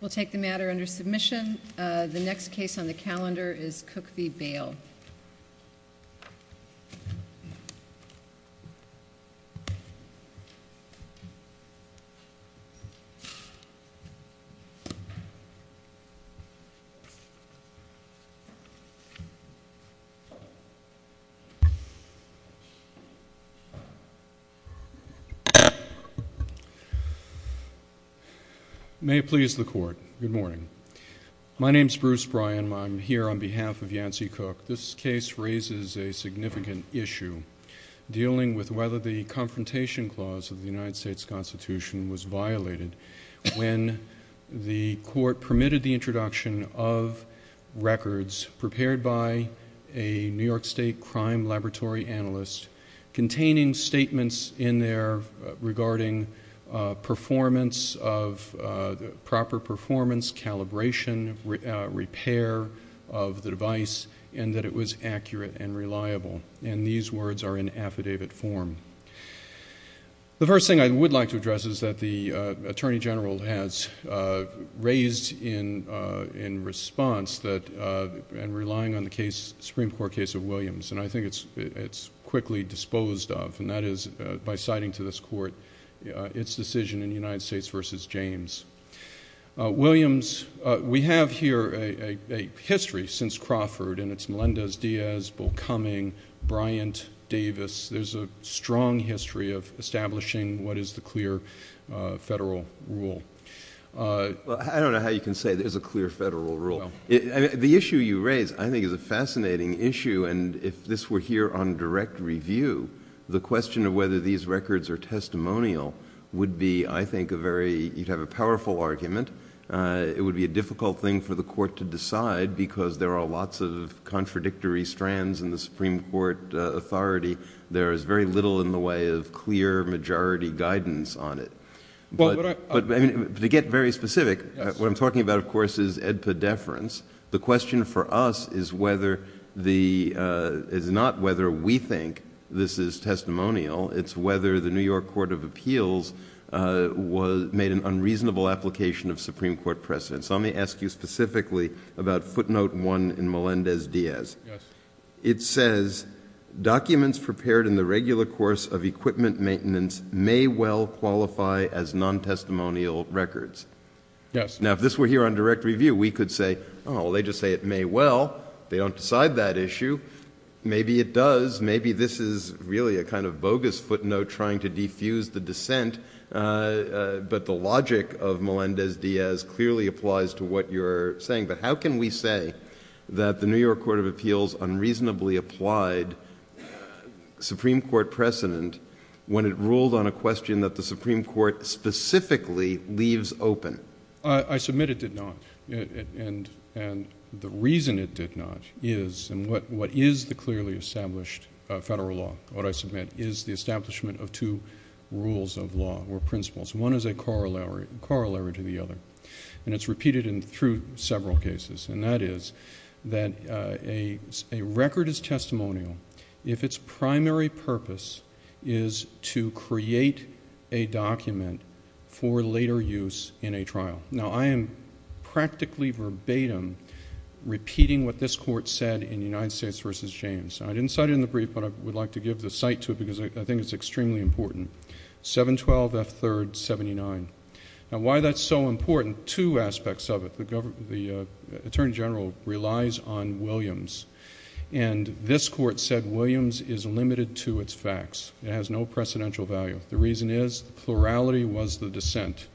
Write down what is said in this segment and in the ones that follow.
We'll take the matter under submission. The next case on the calendar is Cook v. Bayle. May it please the Court. Good morning. My name is Bruce Bryan. I'm here on behalf of Yancey Cook. This case raises a significant issue dealing with whether the Confrontation Clause of the United States Constitution was violated when the Court permitted the introduction of records prepared by a New York State Crime Laboratory analyst containing statements in there regarding proper performance, calibration, repair of the device and that it was accurate and reliable. These words are in affidavit form. The first thing I would like to address is that the Attorney General has raised in response and relying on the Supreme Court case of Williams and I think it's quickly disposed of and that is by citing to this Court its decision in United States v. James. Williams, we have here a history since Crawford and it's Melendez-Diaz, Bull Cumming, Bryant, Davis. There's a strong history of establishing what is the clear federal rule. I don't know how you can say there's a clear federal rule. The issue you raise I think is a fascinating issue and if this were here on direct review, the question of whether these records are testimonial would be I think a very, you'd have a powerful argument. It would be a difficult thing for the Court to decide because there are lots of contradictory strands in the Supreme Court authority. There is very little in the way of clear majority guidance on it. To get very specific, what I'm talking about of course is EDPA deference. The question for us is not whether we think this is testimonial. It's whether the New York Court of Appeals made an unreasonable application of Supreme Court precedents. Let me ask you specifically about footnote one in Melendez-Diaz. It says, documents prepared in the regular course of equipment maintenance may well qualify as non-testimonial records. Now if this were here on direct review, we could say, oh, they just say it may well. They don't decide that issue. Maybe it does. Maybe this is really a kind of bogus footnote trying to defuse the dissent, but the logic of Melendez-Diaz clearly applies to what you're saying. But how can we say that the New York Court of Appeals unreasonably applied Supreme Court precedent when it ruled on a question that the Supreme Court specifically leaves open? I submit it did not. And the reason it did not is, and what is the clearly established federal law? What I submit is the establishment of two rules of law or principles. One is a corollary to the other. And it's repeated through several cases, and that is that a record is testimonial if its primary purpose is to create a document for later use in a trial. Now I am practically verbatim repeating what this Court said in United States v. James. I didn't cite it in the brief, but I would like to give the cite to it because I think it's extremely important. 712F3rd79. Now why that's so important, two aspects of it. The Attorney General relies on Williams, and this Court said Williams is limited to its facts. It has no precedential value. The reason is the plurality was the dissent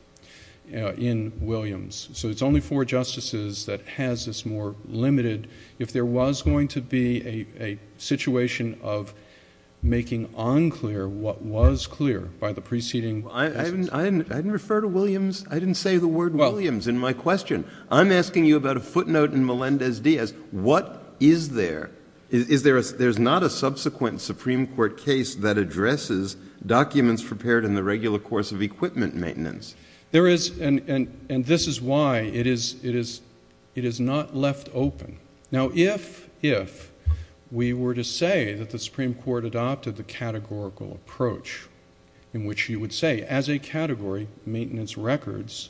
in Williams. So it's only four justices that has this more limited. If there was going to be a situation of making unclear what was clear by the preceding justice. I didn't refer to Williams. I didn't say the word Williams in my question. I'm asking you about a footnote in Melendez-Diaz. What is there? There's not a subsequent Supreme Court case that addresses documents prepared in the regular course of equipment maintenance. There is, and this is why it is not left open. Now if we were to say that the Supreme Court adopted the categorical approach in which you would say, as a category, maintenance records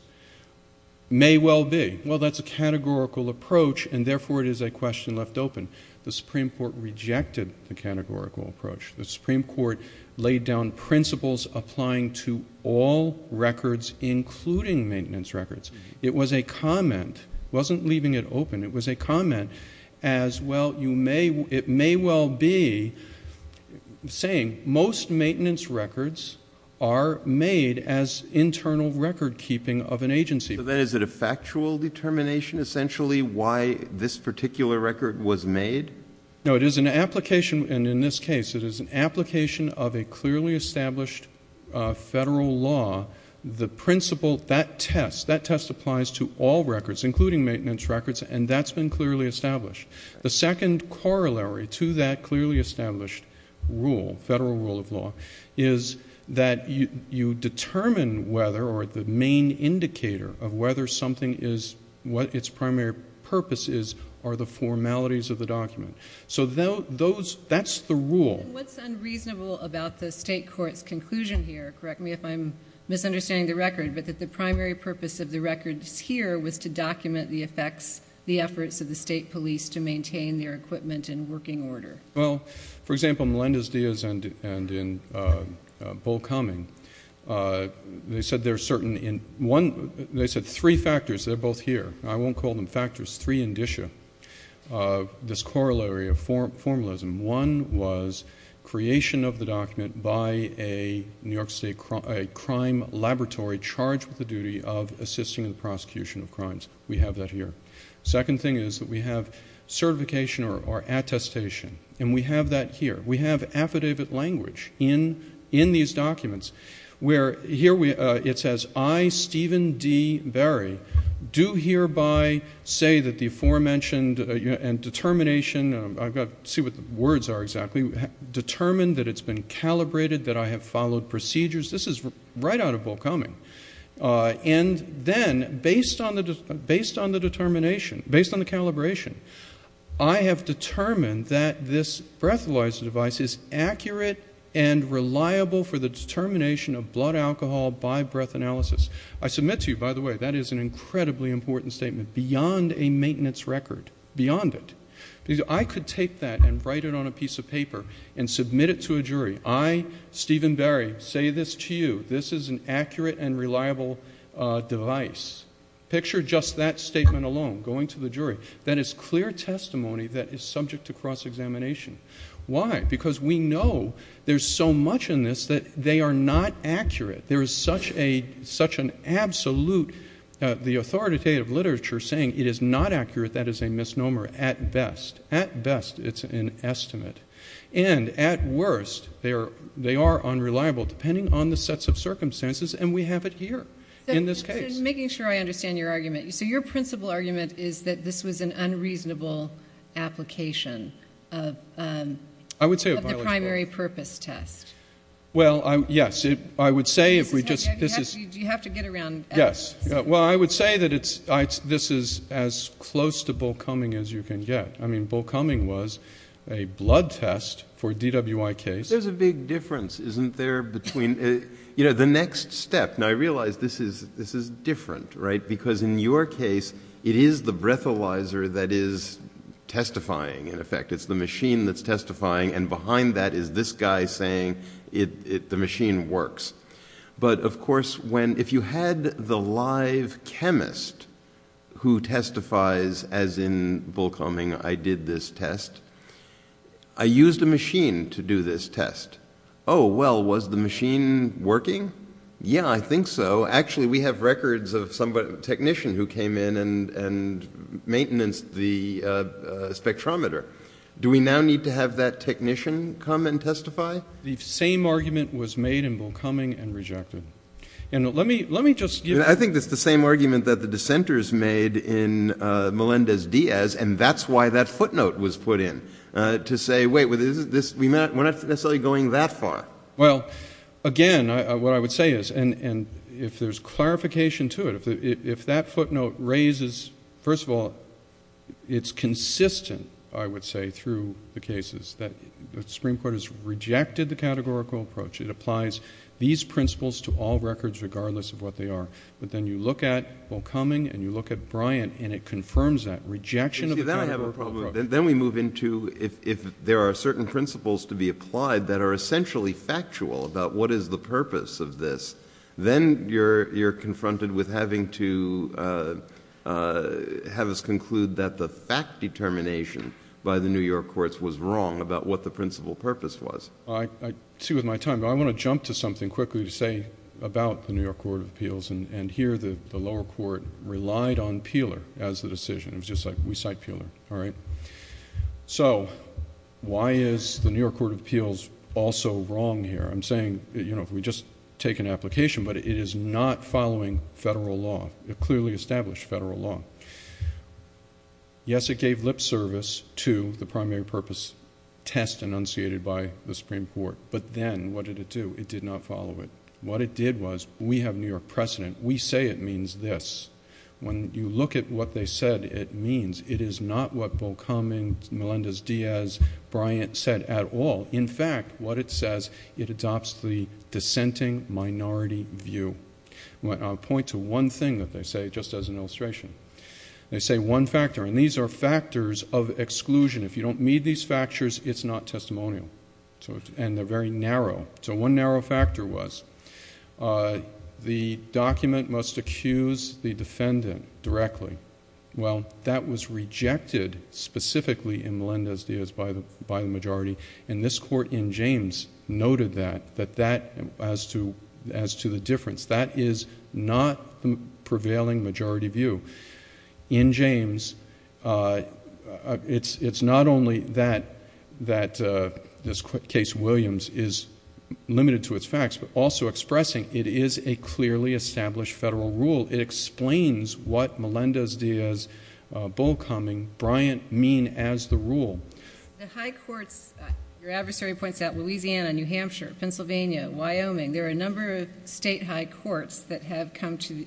may well be. Well, that's a categorical approach, and therefore it is a question left open. The Supreme Court rejected the categorical approach. The Supreme Court laid down principles applying to all records including maintenance records. It was a comment. It wasn't leaving it open. It was a comment as, well, it may well be saying most maintenance records are made as internal record keeping of an agency. So then is it a factual determination essentially why this particular record was made? No, it is an application, and in this case it is an application of a clearly established federal law. The principle, that test, that test applies to all records including maintenance records, and that's been clearly established. The second corollary to that clearly established rule, federal rule of law, is that you determine whether or the main indicator of whether something is, what its primary purpose is, are the formalities of the document. So that's the rule. What's unreasonable about the state court's conclusion here, correct me if I'm misunderstanding the record, but that the primary purpose of the records here was to document the effects, the efforts of the state police to maintain their equipment in working order? Well, for example, Melendez-Diaz and in Bull Cumming, they said there are certain, they said three factors, they're both here. I won't call them factors. Three indicia of this corollary of formalism. One was creation of the document by a New York State crime laboratory charged with the duty of assisting in the prosecution of crimes. We have that here. Second thing is that we have certification or attestation, and we have that here. We have affidavit language in these documents where here it says, I, Stephen D. Berry, do hereby say that the aforementioned determination, I've got to see what the words are exactly, determined that it's been calibrated, that I have followed procedures. This is right out of Bull Cumming. And then based on the determination, based on the calibration, I have determined that this breathalyzer device is accurate and reliable for the determination of blood alcohol by breath analysis. I submit to you, by the way, that is an incredibly important statement, beyond a maintenance record, beyond it. I could take that and write it on a piece of paper and submit it to a jury. I, Stephen Berry, say this to you. This is an accurate and reliable device. Picture just that statement alone going to the jury. That is clear testimony that is subject to cross-examination. Why? Because we know there's so much in this that they are not accurate. There is such an absolute, the authoritative literature saying it is not accurate, that is a misnomer at best. At best, it's an estimate. And at worst, they are unreliable, depending on the sets of circumstances, and we have it here in this case. So making sure I understand your argument, so your principal argument is that this was an unreasonable application of the primary purpose test. Well, yes. I would say if we just... Do you have to get around evidence? Yes. Well, I would say that this is as close to Bull Cumming as you can get. I mean, Bull Cumming was a blood test for a DWI case. There's a big difference, isn't there, between, you know, the next step. Now, I realize this is different, right, because in your case, it is the breathalyzer that is testifying, in effect. It's the machine that's testifying, and behind that is this guy saying the machine works. But, of course, if you had the live chemist who testifies, as in Bull Cumming, I did this test, I used a machine to do this test. Oh, well, was the machine working? Yeah, I think so. Actually, we have records of a technician who came in and maintenanced the spectrometer. Do we now need to have that technician come and testify? The same argument was made in Bull Cumming and rejected. And let me just give you... I think it's the same argument that the dissenters made in Melendez-Diaz, and that's why that footnote was put in, to say, wait, we're not necessarily going that far. Well, again, what I would say is, and if there's clarification to it, if that footnote raises, first of all, it's consistent, I would say, through the cases, that the Supreme Court has rejected the categorical approach. It applies these principles to all records, regardless of what they are. But then you look at Bull Cumming and you look at Bryant, and it confirms that rejection of the categorical approach. Then we move into if there are certain principles to be applied that are essentially factual about what is the purpose of this, then you're confronted with having to have us conclude that the fact determination by the New York courts was wrong about what the principal purpose was. I see with my time, but I want to jump to something quickly to say about the New York Court of Appeals, and here the lower court relied on Peeler as the decision. It was just like we cite Peeler, all right? So why is the New York Court of Appeals also wrong here? I'm saying, you know, if we just take an application, but it is not following federal law. It clearly established federal law. Yes, it gave lip service to the primary purpose test enunciated by the Supreme Court, but then what did it do? It did not follow it. What it did was we have New York precedent. We say it means this. When you look at what they said it means, it is not what Bull Cumming, Melendez-Diaz, Bryant said at all. In fact, what it says, it adopts the dissenting minority view. I'll point to one thing that they say just as an illustration. They say one factor, and these are factors of exclusion. If you don't meet these factors, it's not testimonial, and they're very narrow. So one narrow factor was the document must accuse the defendant directly. Well, that was rejected specifically in Melendez-Diaz by the majority, and this court in James noted that as to the difference. That is not the prevailing majority view. In James, it's not only that this case, Williams, is limited to its facts, but also expressing it is a clearly established federal rule. It explains what Melendez-Diaz, Bull Cumming, Bryant mean as the rule. The high courts, your adversary points out Louisiana, New Hampshire, Pennsylvania, Wyoming, there are a number of state high courts that have come to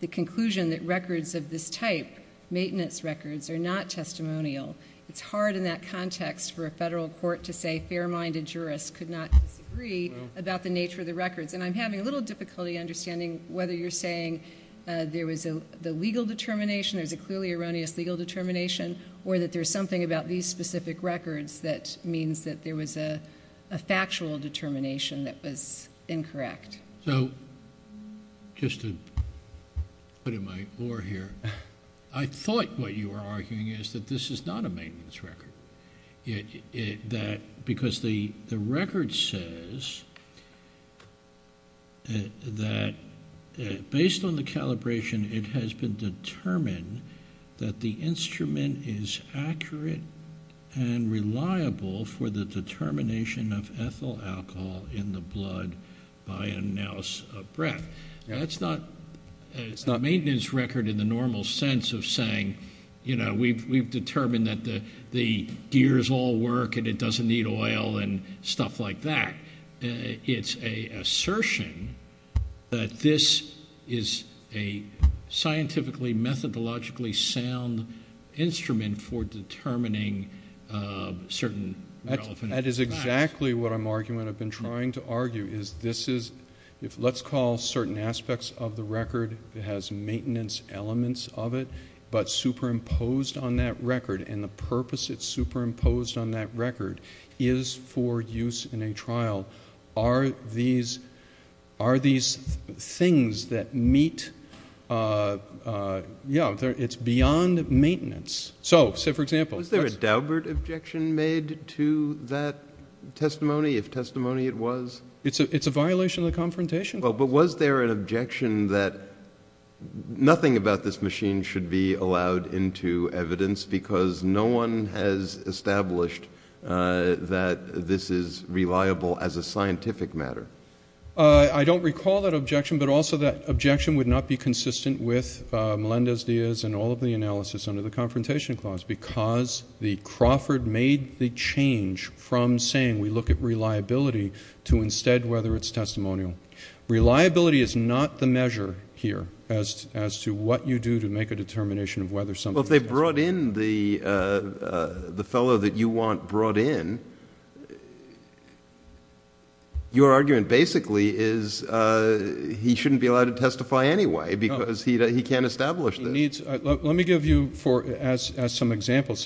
the conclusion that records of this type, maintenance records, are not testimonial. It's hard in that context for a federal court to say fair-minded jurists could not disagree about the nature of the records, and I'm having a little difficulty understanding whether you're saying there was the legal determination, there's a clearly erroneous legal determination, or that there's something about these specific records that means that there was a factual determination that was incorrect. So just to put in my oar here, I thought what you were arguing is that this is not a maintenance record. Because the record says that based on the calibration, it has been determined that the instrument is accurate and reliable for the determination of ethyl alcohol in the blood by a nouse of breath. That's not a maintenance record in the normal sense of saying, you know, we've determined that the gears all work and it doesn't need oil and stuff like that. It's an assertion that this is a scientifically methodologically sound instrument for determining certain relevant facts. That's exactly what I'm arguing, what I've been trying to argue, is this is, let's call certain aspects of the record that has maintenance elements of it, but superimposed on that record and the purpose it's superimposed on that record is for use in a trial. Are these things that meet, yeah, it's beyond maintenance. Was there a Daubert objection made to that testimony, if testimony it was? It's a violation of the confrontation. But was there an objection that nothing about this machine should be allowed into evidence because no one has established that this is reliable as a scientific matter? I don't recall that objection, but also that objection would not be consistent with Melendez-Diaz and all of the analysis under the confrontation clause because the Crawford made the change from saying we look at reliability to instead whether it's testimonial. Reliability is not the measure here as to what you do to make a determination of whether something is reliable. Well, if they brought in the fellow that you want brought in, your argument basically is he shouldn't be allowed to testify anyway because he can't establish this. Let me give you, as some examples,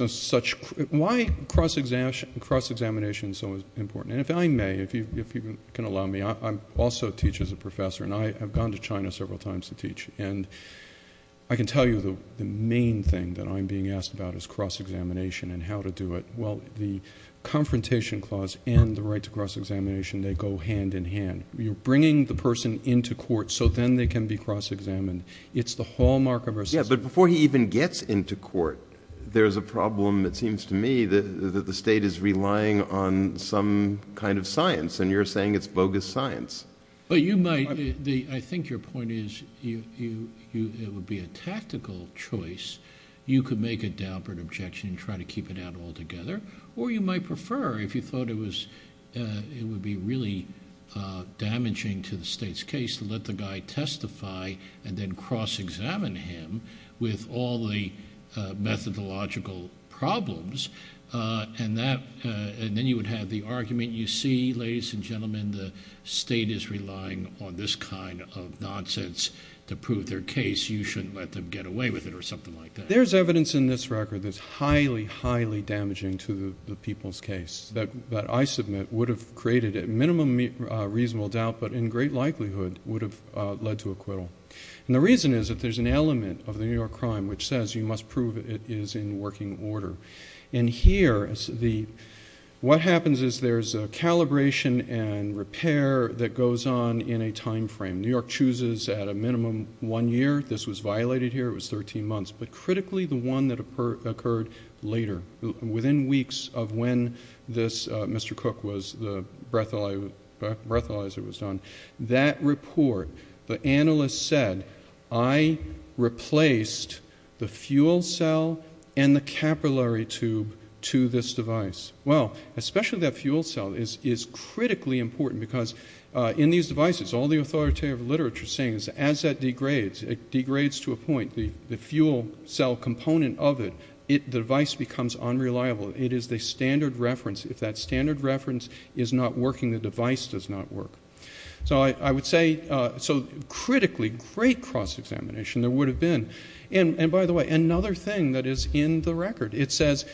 why cross-examination is so important. And if I may, if you can allow me, I also teach as a professor, and I have gone to China several times to teach, and I can tell you the main thing that I'm being asked about is cross-examination and how to do it. Well, the confrontation clause and the right to cross-examination, they go hand in hand. You're bringing the person into court so then they can be cross-examined. It's the hallmark of our system. Yeah, but before he even gets into court, there's a problem, it seems to me, that the state is relying on some kind of science, and you're saying it's bogus science. Well, you might. I think your point is it would be a tactical choice. You could make a downward objection and try to keep it out altogether, or you might prefer if you thought it would be really damaging to the state's case to let the guy testify and then cross-examine him with all the methodological problems, and then you would have the argument, you see, ladies and gentlemen, the state is relying on this kind of nonsense to prove their case. You shouldn't let them get away with it or something like that. There's evidence in this record that's highly, highly damaging to the people's case that I submit would have created at minimum reasonable doubt but in great likelihood would have led to acquittal. And the reason is that there's an element of the New York crime which says you must prove it is in working order. And here, what happens is there's a calibration and repair that goes on in a time frame. New York chooses at a minimum one year. This was violated here. It was 13 months, but critically, the one that occurred later, within weeks of when this Mr. Cook was the breathalyzer was done, that report, the analyst said, I replaced the fuel cell and the capillary tube to this device. Well, especially that fuel cell is critically important because in these devices, all the authoritative literature is saying is as that degrades, it degrades to a point, the fuel cell component of it, the device becomes unreliable. It is the standard reference. If that standard reference is not working, the device does not work. So I would say, so critically, great cross-examination there would have been. And, by the way, another thing that is in the record, it says,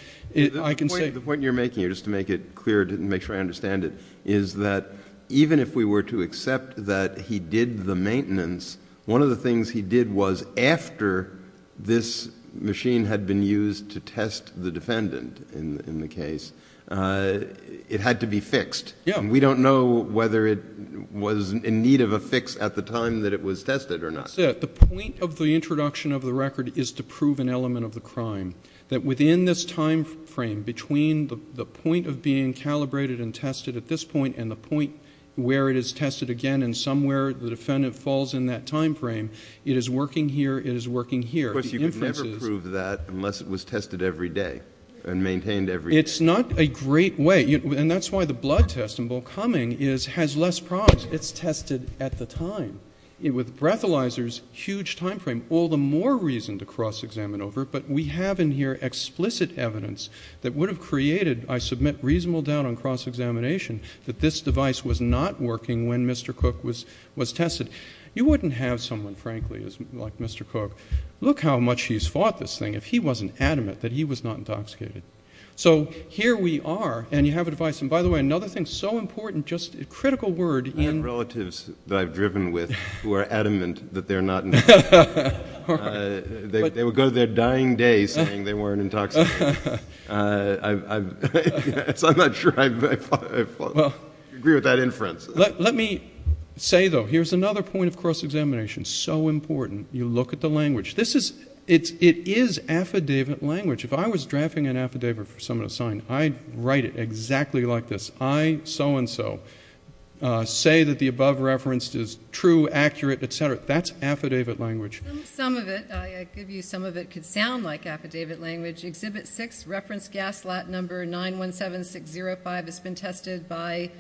I can say. The point you're making here, just to make it clear, to make sure I understand it, is that even if we were to accept that he did the maintenance, one of the things he did was after this machine had been used to test the defendant in the case, it had to be fixed. Yeah. And we don't know whether it was in need of a fix at the time that it was tested or not. That's it. The point of the introduction of the record is to prove an element of the crime, that within this time frame between the point of being calibrated and tested at this point and the point where it is tested again and somewhere the defendant falls in that time frame, it is working here, it is working here. Of course, you could never prove that unless it was tested every day and maintained every day. It's not a great way. And that's why the blood test in Bull Cumming has less problems. It's tested at the time. With breathalyzers, huge time frame, all the more reason to cross-examine over it. But we have in here explicit evidence that would have created, I submit, reasonable doubt on cross-examination that this device was not working when Mr. Cook was tested. You wouldn't have someone, frankly, like Mr. Cook. Look how much he's fought this thing if he wasn't adamant that he was not intoxicated. So here we are, and you have a device. And, by the way, another thing so important, just a critical word. I have relatives that I've driven with who are adamant that they're not intoxicated. They would go to their dying day saying they weren't intoxicated. So I'm not sure I agree with that inference. Let me say, though, here's another point of cross-examination, so important. You look at the language. It is affidavit language. If I was drafting an affidavit for someone to sign, I'd write it exactly like this. I so-and-so say that the above reference is true, accurate, et cetera. That's affidavit language. Some of it, I give you some of it, could sound like affidavit language. Exhibit 6, reference gas lot number 917605 has been tested by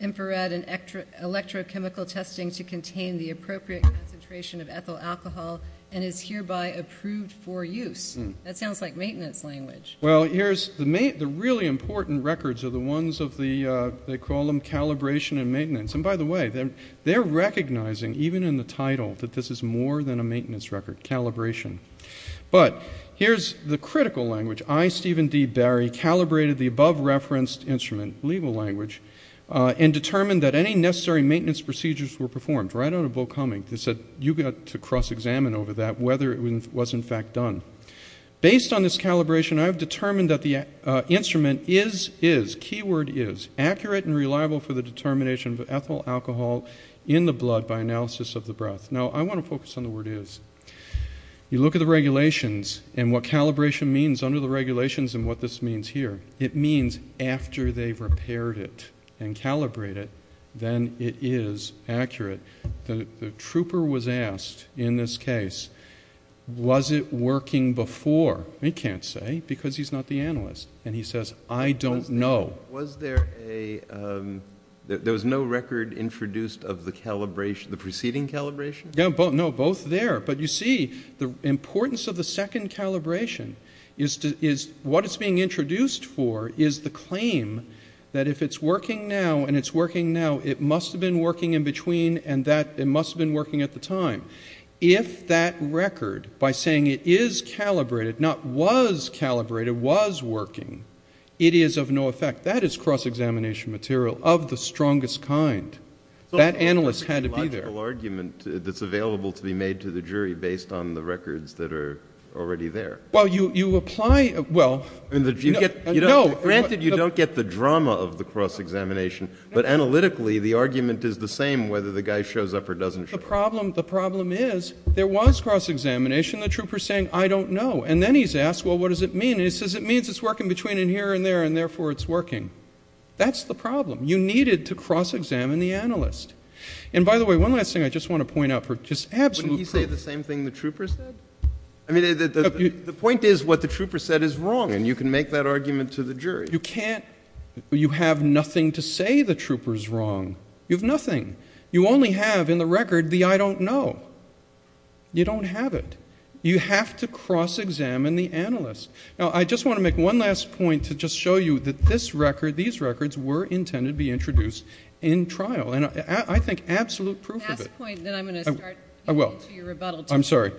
infrared and electrochemical testing to contain the appropriate concentration of ethyl alcohol and is hereby approved for use. That sounds like maintenance language. Well, here's the really important records are the ones of the, they call them calibration and maintenance. And by the way, they're recognizing, even in the title, that this is more than a maintenance record, calibration. But here's the critical language. I, Stephen D. Barry, calibrated the above-referenced instrument, legal language, and determined that any necessary maintenance procedures were performed. Right out of Bull Cummings, they said, you've got to cross-examine over that whether it was in fact done. Based on this calibration, I've determined that the instrument is, is, keyword is, accurate and reliable for the determination of ethyl alcohol in the blood by analysis of the breath. Now, I want to focus on the word is. You look at the regulations and what calibration means under the regulations and what this means here. It means after they've repaired it and calibrated it, then it is accurate. The trooper was asked in this case, was it working before? He can't say because he's not the analyst. And he says, I don't know. Was there a, there was no record introduced of the calibration, the preceding calibration? No, both there. But you see, the importance of the second calibration is to, is what it's being introduced for is the claim that if it's working now and it's working now, it must have been working in between and that it must have been working at the time. If that record, by saying it is calibrated, not was calibrated, was working, it is of no effect. That is cross-examination material of the strongest kind. That analyst had to be there. It's a logical argument that's available to be made to the jury based on the records that are already there. Well, you apply, well, no. Granted, you don't get the drama of the cross-examination, but analytically the argument is the same whether the guy shows up or doesn't show up. The problem is there was cross-examination. The trooper is saying, I don't know. And then he's asked, well, what does it mean? And he says, it means it's working between in here and there, and therefore it's working. That's the problem. You needed to cross-examine the analyst. And by the way, one last thing I just want to point out for just absolute proof. Wouldn't he say the same thing the trooper said? I mean, the point is what the trooper said is wrong, and you can make that argument to the jury. You can't. You have nothing to say the trooper's wrong. You have nothing. You only have in the record the I don't know. You don't have it. You have to cross-examine the analyst. Now, I just want to make one last point to just show you that this record, these records were intended to be introduced in trial, and I think absolute proof of it. Last point, then I'm going to start getting into your rebuttal. I'm sorry.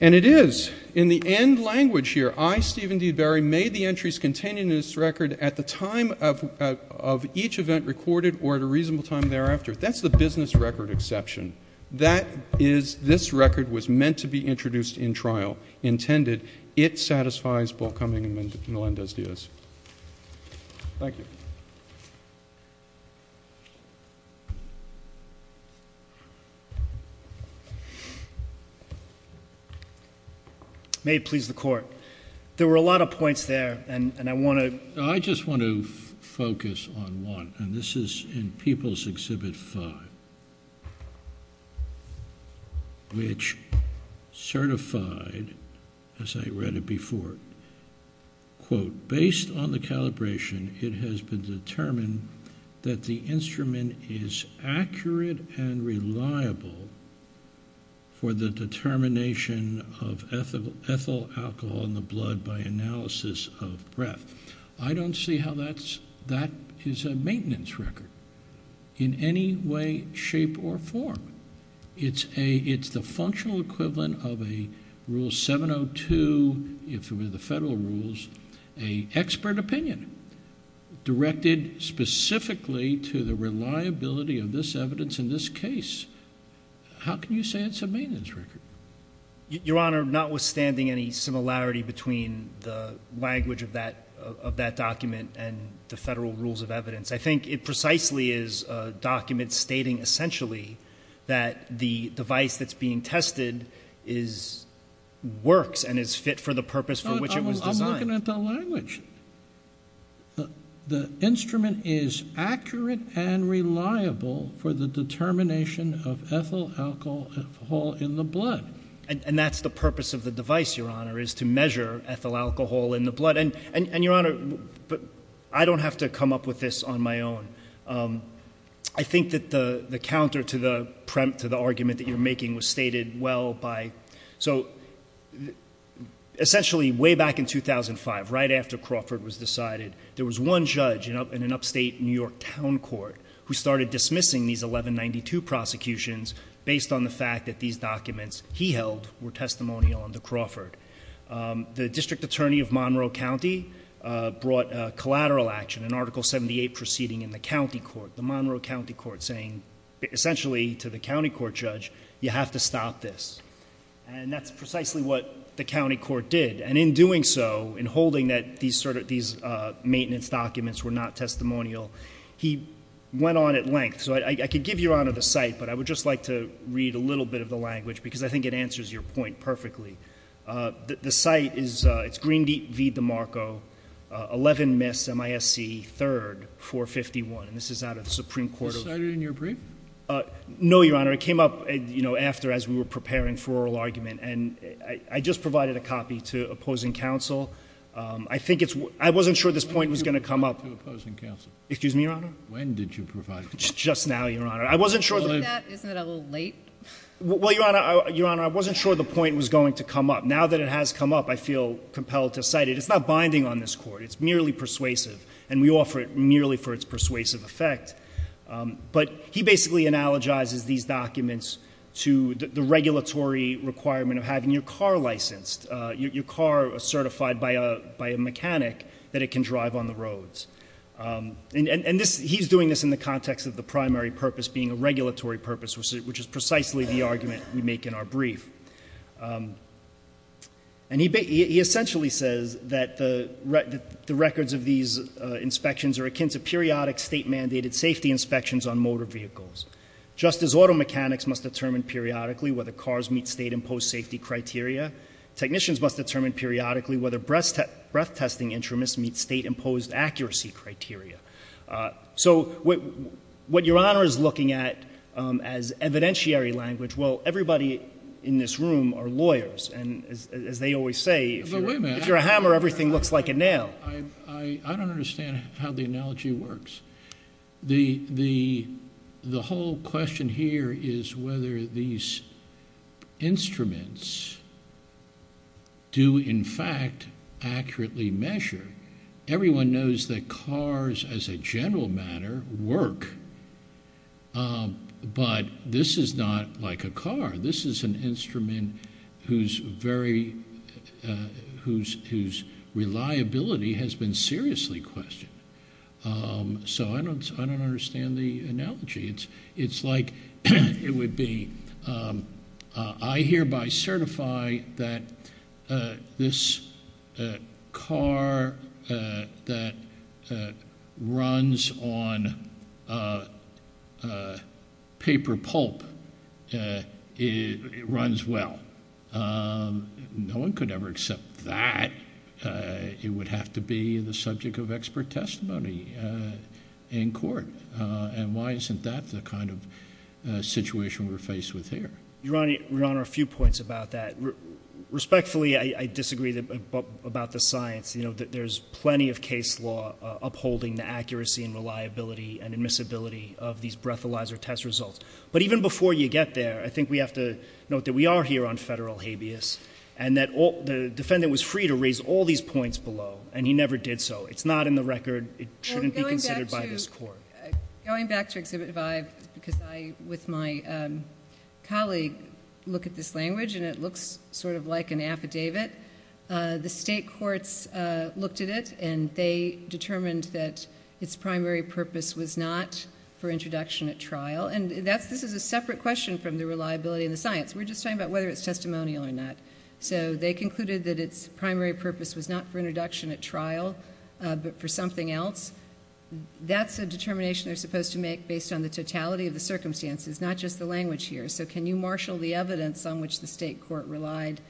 And it is. In the end language here, I, Stephen D. Barry, made the entries contained in this record at the time of each event recorded or at a reasonable time thereafter. That's the business record exception. That is this record was meant to be introduced in trial. Intended. It satisfies Paul Cumming and Melendez-Diaz. Thank you. May it please the court. There were a lot of points there, and I want to. I just want to focus on one, and this is in People's Exhibit 5, which certified, as I read it before, quote, based on the calibration, it has been determined that the instrument is accurate and reliable for the determination of ethyl alcohol in the blood by analysis of breath. I don't see how that is a maintenance record in any way, shape, or form. It's the functional equivalent of a Rule 702, if it were the federal rules, an expert opinion directed specifically to the reliability of this evidence in this case. How can you say it's a maintenance record? Your Honor, notwithstanding any similarity between the language of that document and the federal rules of evidence, I think it precisely is a document stating essentially that the device that's being tested works and is fit for the purpose for which it was designed. I'm looking at the language. The instrument is accurate and reliable for the determination of ethyl alcohol in the blood. And that's the purpose of the device, Your Honor, is to measure ethyl alcohol in the blood. And, Your Honor, I don't have to come up with this on my own. I think that the counter to the argument that you're making was stated well by, so essentially way back in 2005, right after Crawford was decided, there was one judge in an upstate New York town court who started dismissing these 1192 prosecutions based on the fact that these documents he held were testimonial under Crawford. The district attorney of Monroe County brought collateral action, an Article 78 proceeding in the county court, the Monroe County Court, saying essentially to the county court judge, you have to stop this. And that's precisely what the county court did. And in doing so, in holding that these maintenance documents were not testimonial, he went on at length. So I could give Your Honor the site, but I would just like to read a little bit of the language because I think it answers your point perfectly. The site is Green Deep v. DeMarco, 11 Miss, MISC, 3rd, 451. And this is out of the Supreme Court. Was this cited in your brief? No, Your Honor. It came up after as we were preparing for oral argument. And I just provided a copy to opposing counsel. I wasn't sure this point was going to come up. When did you provide it to opposing counsel? Excuse me, Your Honor? When did you provide it? Just now, Your Honor. Isn't that a little late? Well, Your Honor, I wasn't sure the point was going to come up. Now that it has come up, I feel compelled to cite it. It's not binding on this court. It's merely persuasive. And we offer it merely for its persuasive effect. But he basically analogizes these documents to the regulatory requirement of having your car licensed, and he's doing this in the context of the primary purpose being a regulatory purpose, which is precisely the argument we make in our brief. And he essentially says that the records of these inspections are akin to periodic state-mandated safety inspections on motor vehicles, just as auto mechanics must determine periodically whether cars meet state-imposed safety criteria, technicians must determine periodically whether breath-testing instruments meet state-imposed accuracy criteria. So what Your Honor is looking at as evidentiary language, well, everybody in this room are lawyers, and as they always say, if you're a hammer, everything looks like a nail. I don't understand how the analogy works. The whole question here is whether these instruments do, in fact, accurately measure. Everyone knows that cars, as a general matter, work, but this is not like a car. This is an instrument whose reliability has been seriously questioned. So I don't understand the analogy. It's like it would be I hereby certify that this car that runs on paper pulp runs well. No one could ever accept that. It would have to be the subject of expert testimony in court. And why isn't that the kind of situation we're faced with here? Your Honor, a few points about that. Respectfully, I disagree about the science. There's plenty of case law upholding the accuracy and reliability and admissibility of these breathalyzer test results. But even before you get there, I think we have to note that we are here on federal habeas and that the defendant was free to raise all these points below, and he never did so. It's not in the record. It shouldn't be considered by this court. Going back to Exhibit 5, because I, with my colleague, look at this language and it looks sort of like an affidavit, the state courts looked at it and they determined that its primary purpose was not for introduction at trial. And this is a separate question from the reliability and the science. We're just talking about whether it's testimonial or not. So they concluded that its primary purpose was not for introduction at trial but for something else. That's a determination they're supposed to make based on the totality of the circumstances, not just the language here. So can you marshal the evidence on which the state court relied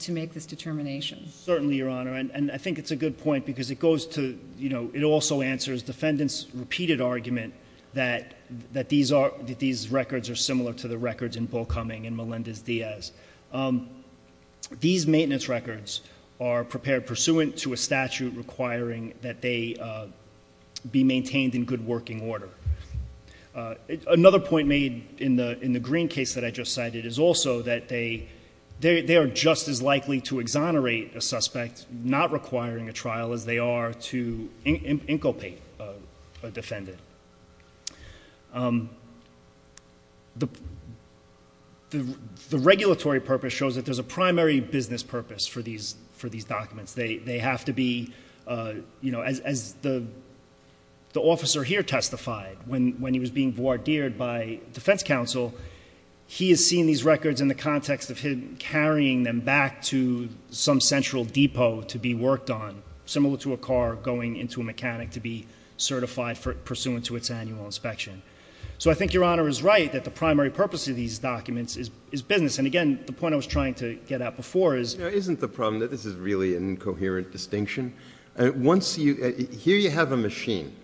to make this determination? Certainly, Your Honor. And I think it's a good point because it also answers the defendant's repeated argument that these records are similar to the records in Bull Cumming and Melendez-Diaz. These maintenance records are prepared pursuant to a statute requiring that they be maintained in good working order. Another point made in the Green case that I just cited is also that they are just as likely to exonerate a suspect, not requiring a trial as they are to inculpate a defendant. The regulatory purpose shows that there's a primary business purpose for these documents. They have to be, you know, as the officer here testified when he was being voir dired by defense counsel, he has seen these records in the context of him carrying them back to some central depot to be worked on, similar to a car going into a mechanic to be certified pursuant to its annual inspection. So I think Your Honor is right that the primary purpose of these documents is business. And, again, the point I was trying to get at before is— Isn't the problem that this is really an incoherent distinction? Here you have a machine.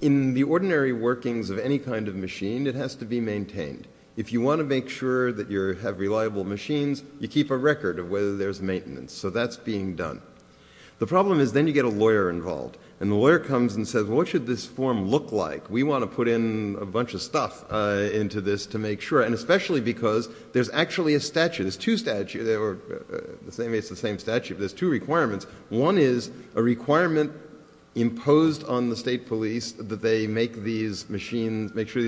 In the ordinary workings of any kind of machine, it has to be maintained. If you want to make sure that you have reliable machines, you keep a record of whether there's maintenance. So that's being done. The problem is then you get a lawyer involved. And the lawyer comes and says, well, what should this form look like? We want to put in a bunch of stuff into this to make sure. And especially because there's actually a statute. It's the same statute, but there's two requirements. One is a requirement imposed on the state police that they make sure these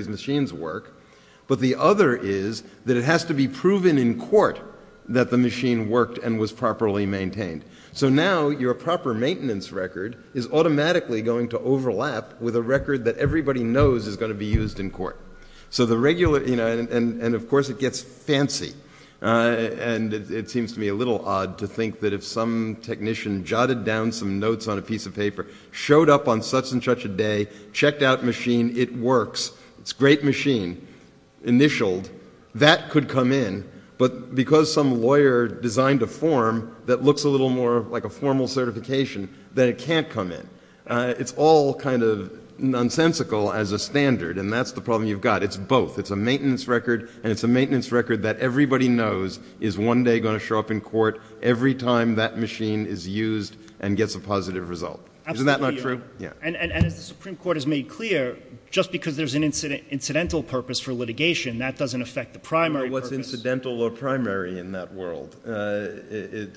machines work. But the other is that it has to be proven in court that the machine worked and was properly maintained. So now your proper maintenance record is automatically going to overlap with a record that everybody knows is going to be used in court. So the regular—and of course it gets fancy. And it seems to me a little odd to think that if some technician jotted down some notes on a piece of paper, showed up on such and such a day, checked out machine, it works, it's a great machine, initialed, that could come in. But because some lawyer designed a form that looks a little more like a formal certification, then it can't come in. It's all kind of nonsensical as a standard, and that's the problem you've got. It's both. It's a maintenance record, and it's a maintenance record that everybody knows is one day going to show up in court every time that machine is used and gets a positive result. Isn't that not true? Absolutely, Your Honor. And as the Supreme Court has made clear, just because there's an incidental purpose for litigation, that doesn't affect the primary purpose. I don't know what's incidental or primary in that world. It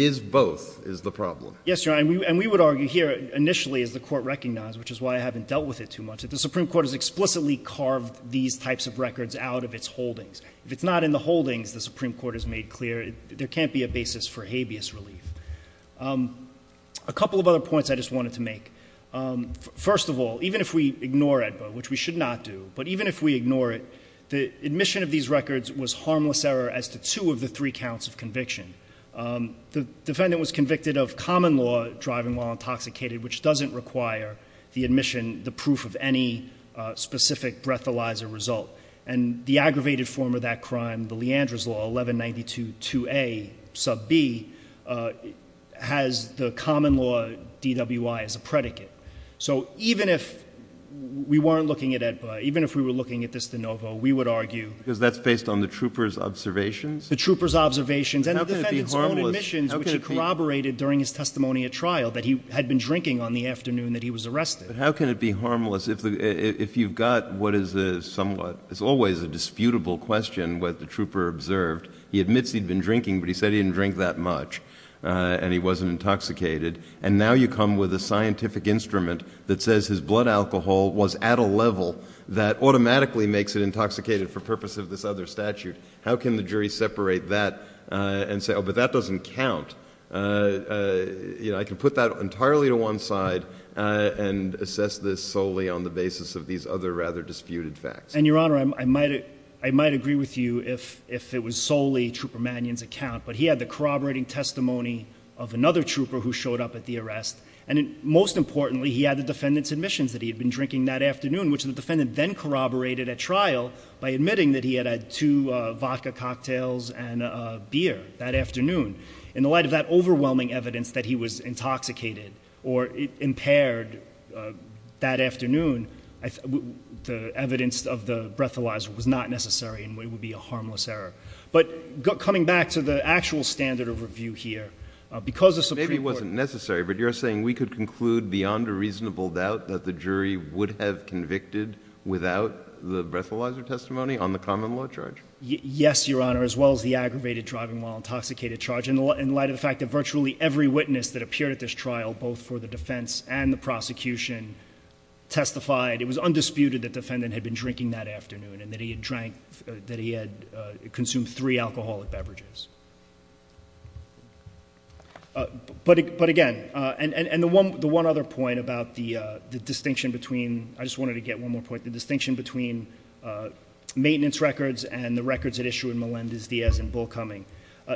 is both is the problem. Yes, Your Honor, and we would argue here, initially, as the Court recognized, which is why I haven't dealt with it too much, that the Supreme Court has explicitly carved these types of records out of its holdings. If it's not in the holdings, the Supreme Court has made clear, there can't be a basis for habeas relief. A couple of other points I just wanted to make. First of all, even if we ignore AEDBA, which we should not do, but even if we ignore it, the admission of these records was harmless error as to two of the three counts of conviction. The defendant was convicted of common law driving while intoxicated, which doesn't require the admission, the proof of any specific breathalyzer result. And the aggravated form of that crime, the Leandris Law, 1192-2A, sub B, has the common law DWI as a predicate. So even if we weren't looking at AEDBA, even if we were looking at this de novo, we would argue— Because that's based on the trooper's observations? The trooper's observations. And the defendant's own admissions, which he corroborated during his testimony at trial, that he had been drinking on the afternoon that he was arrested. But how can it be harmless if you've got what is a somewhat— it's always a disputable question what the trooper observed. He admits he'd been drinking, but he said he didn't drink that much and he wasn't intoxicated. And now you come with a scientific instrument that says his blood alcohol was at a level that automatically makes it intoxicated for purpose of this other statute. How can the jury separate that and say, oh, but that doesn't count? I can put that entirely to one side and assess this solely on the basis of these other rather disputed facts. And, Your Honor, I might agree with you if it was solely Trooper Mannion's account, but he had the corroborating testimony of another trooper who showed up at the arrest. And most importantly, he had the defendant's admissions that he had been drinking that afternoon, in which the defendant then corroborated at trial by admitting that he had had two vodka cocktails and a beer that afternoon. In the light of that overwhelming evidence that he was intoxicated or impaired that afternoon, the evidence of the breathalyzer was not necessary and would be a harmless error. But coming back to the actual standard of review here, because the Supreme Court— Maybe it wasn't necessary, but you're saying we could conclude beyond a reasonable doubt that the jury would have convicted without the breathalyzer testimony on the common law charge? Yes, Your Honor, as well as the aggravated driving while intoxicated charge, in light of the fact that virtually every witness that appeared at this trial, both for the defense and the prosecution, testified. It was undisputed that the defendant had been drinking that afternoon and that he had consumed three alcoholic beverages. But, again, and the one other point about the distinction between— I just wanted to get one more point—the distinction between maintenance records and the records at issue in Melendez-Diaz and Bullcoming.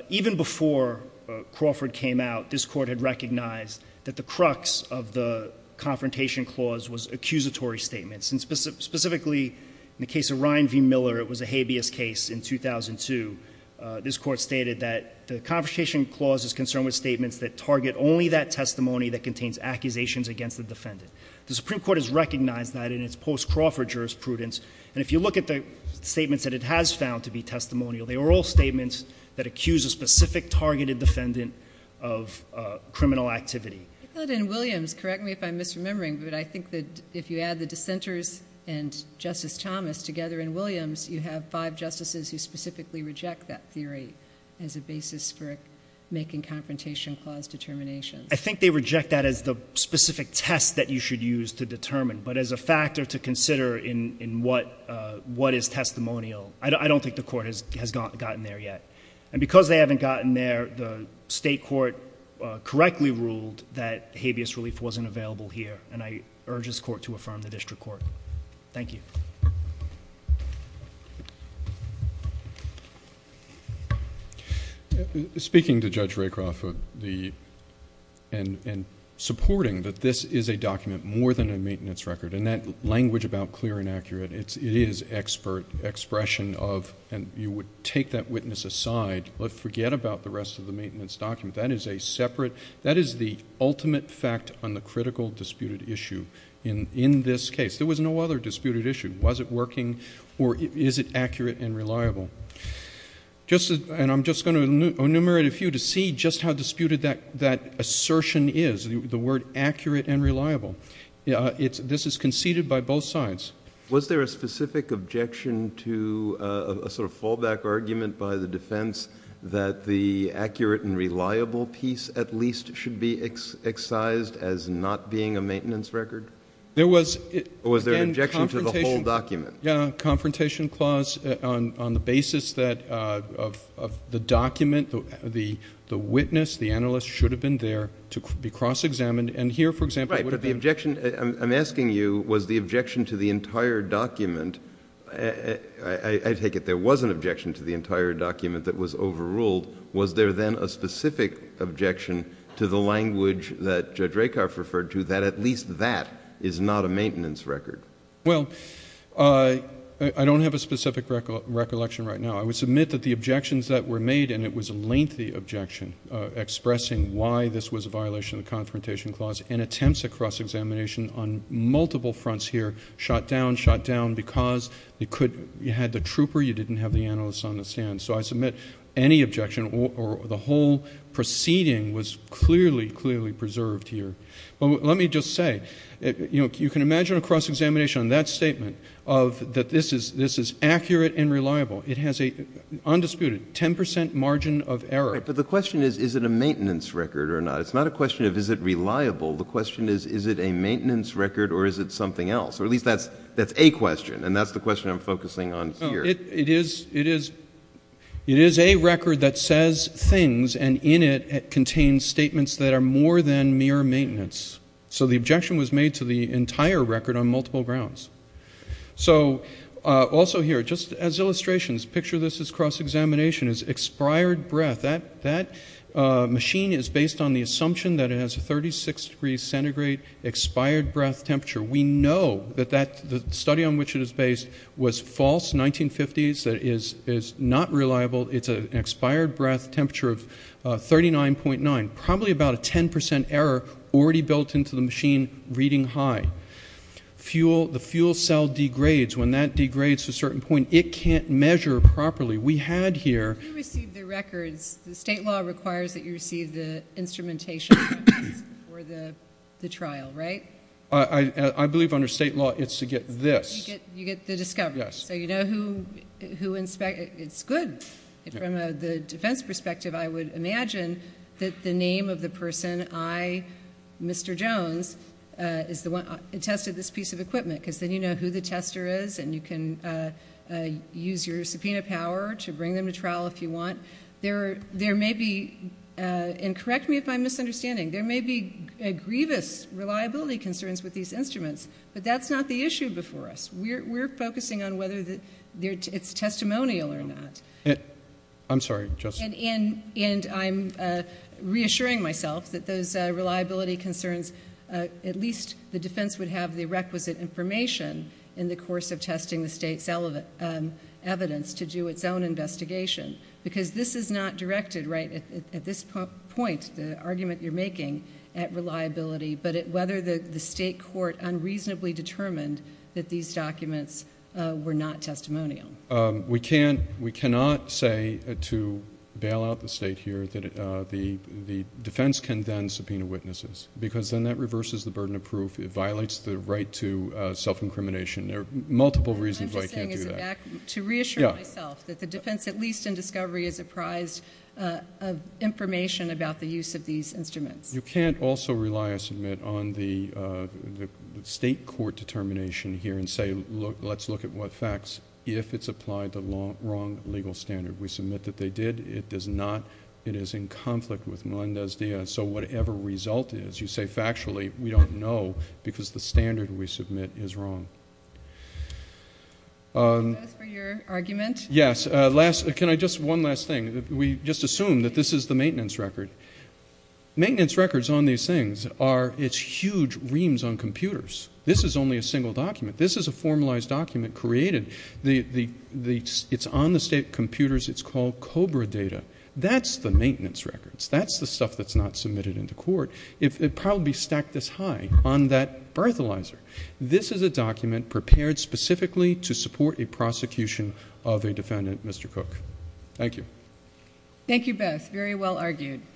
Even before Crawford came out, this Court had recognized that the crux of the confrontation clause was accusatory statements. Specifically, in the case of Ryan v. Miller, it was a habeas case in 2002. This Court stated that the confrontation clause is concerned with statements that target only that testimony that contains accusations against the defendant. The Supreme Court has recognized that in its post-Crawford jurisprudence, and if you look at the statements that it has found to be testimonial, they were all statements that accuse a specific targeted defendant of criminal activity. I thought in Williams—correct me if I'm misremembering, but I think that if you add the dissenters and Justice Thomas together in Williams, you have five justices who specifically reject that theory as a basis for making confrontation clause determinations. I think they reject that as the specific test that you should use to determine, but as a factor to consider in what is testimonial. I don't think the Court has gotten there yet. And because they haven't gotten there, the state court correctly ruled that habeas relief wasn't available here, and I urge this Court to affirm the district court. Thank you. Speaking to Judge Rakoff and supporting that this is a document more than a maintenance record and that language about clear and accurate, it is expression of— and you would take that witness aside, but forget about the rest of the maintenance document. That is a separate—that is the ultimate fact on the critical disputed issue in this case. There was no other disputed issue. Was it working or is it accurate and reliable? And I'm just going to enumerate a few to see just how disputed that assertion is, the word accurate and reliable. This is conceded by both sides. Was there a specific objection to a sort of fallback argument by the defense that the accurate and reliable piece at least should be excised as not being a maintenance record? There was— Or was there an objection to the whole document? Yeah, confrontation clause on the basis that the document, the witness, the analyst, should have been there to be cross-examined, and here, for example— Right, but the objection—I'm asking you, was the objection to the entire document— I take it there was an objection to the entire document that was overruled. Was there then a specific objection to the language that Judge Rakoff referred to that at least that is not a maintenance record? Well, I don't have a specific recollection right now. I would submit that the objections that were made, and it was a lengthy objection, expressing why this was a violation of the confrontation clause and attempts at cross-examination on multiple fronts here, shot down, shot down, because you had the trooper, you didn't have the analyst on the stand. So I submit any objection or the whole proceeding was clearly, clearly preserved here. But let me just say, you can imagine a cross-examination on that statement of that this is accurate and reliable. It has an undisputed 10 percent margin of error. Right, but the question is, is it a maintenance record or not? It's not a question of is it reliable. The question is, is it a maintenance record or is it something else? Or at least that's a question, and that's the question I'm focusing on here. It is a record that says things, and in it contains statements that are more than mere maintenance. So the objection was made to the entire record on multiple grounds. So also here, just as illustrations, picture this as cross-examination, as expired breath. That machine is based on the assumption that it has a 36-degree centigrade expired breath temperature. We know that the study on which it is based was false 1950s. It is not reliable. It's an expired breath temperature of 39.9. Probably about a 10 percent error already built into the machine reading high. The fuel cell degrades. When that degrades to a certain point, it can't measure properly. We had here. You received the records. The state law requires that you receive the instrumentation records for the trial, right? I believe under state law it's to get this. You get the discovery. Yes. So you know who inspects. It's good. From the defense perspective, I would imagine that the name of the person, I, Mr. Jones, is the one who tested this piece of equipment because then you know who the tester is, and you can use your subpoena power to bring them to trial if you want. There may be, and correct me if I'm misunderstanding, there may be grievous reliability concerns with these instruments, but that's not the issue before us. We're focusing on whether it's testimonial or not. I'm sorry, Justice. And I'm reassuring myself that those reliability concerns, at least the defense would have the requisite information in the course of testing the state's evidence to do its own investigation because this is not directed right at this point, the argument you're making, at reliability, but at whether the state court unreasonably determined that these documents were not testimonial. We cannot say to bail out the state here that the defense can then subpoena witnesses because then that reverses the burden of proof. It violates the right to self-incrimination. There are multiple reasons why you can't do that. What I'm just saying is to reassure myself that the defense, at least in discovery, is apprised of information about the use of these instruments. You can't also rely, I submit, on the state court determination here and say, let's look at what facts if it's applied the wrong legal standard. We submit that they did. It does not. It is in conflict with Melendez-Diaz. And so whatever result is, you say factually, we don't know because the standard we submit is wrong. That's for your argument? Yes. Last, can I just, one last thing. We just assumed that this is the maintenance record. Maintenance records on these things are, it's huge reams on computers. This is only a single document. This is a formalized document created. It's on the state computers. It's called COBRA data. That's the maintenance records. That's the stuff that's not submitted into court. It would probably be stacked this high on that birthalyzer. This is a document prepared specifically to support a prosecution of a defendant, Mr. Cook. Thank you. Thank you both. Very well argued.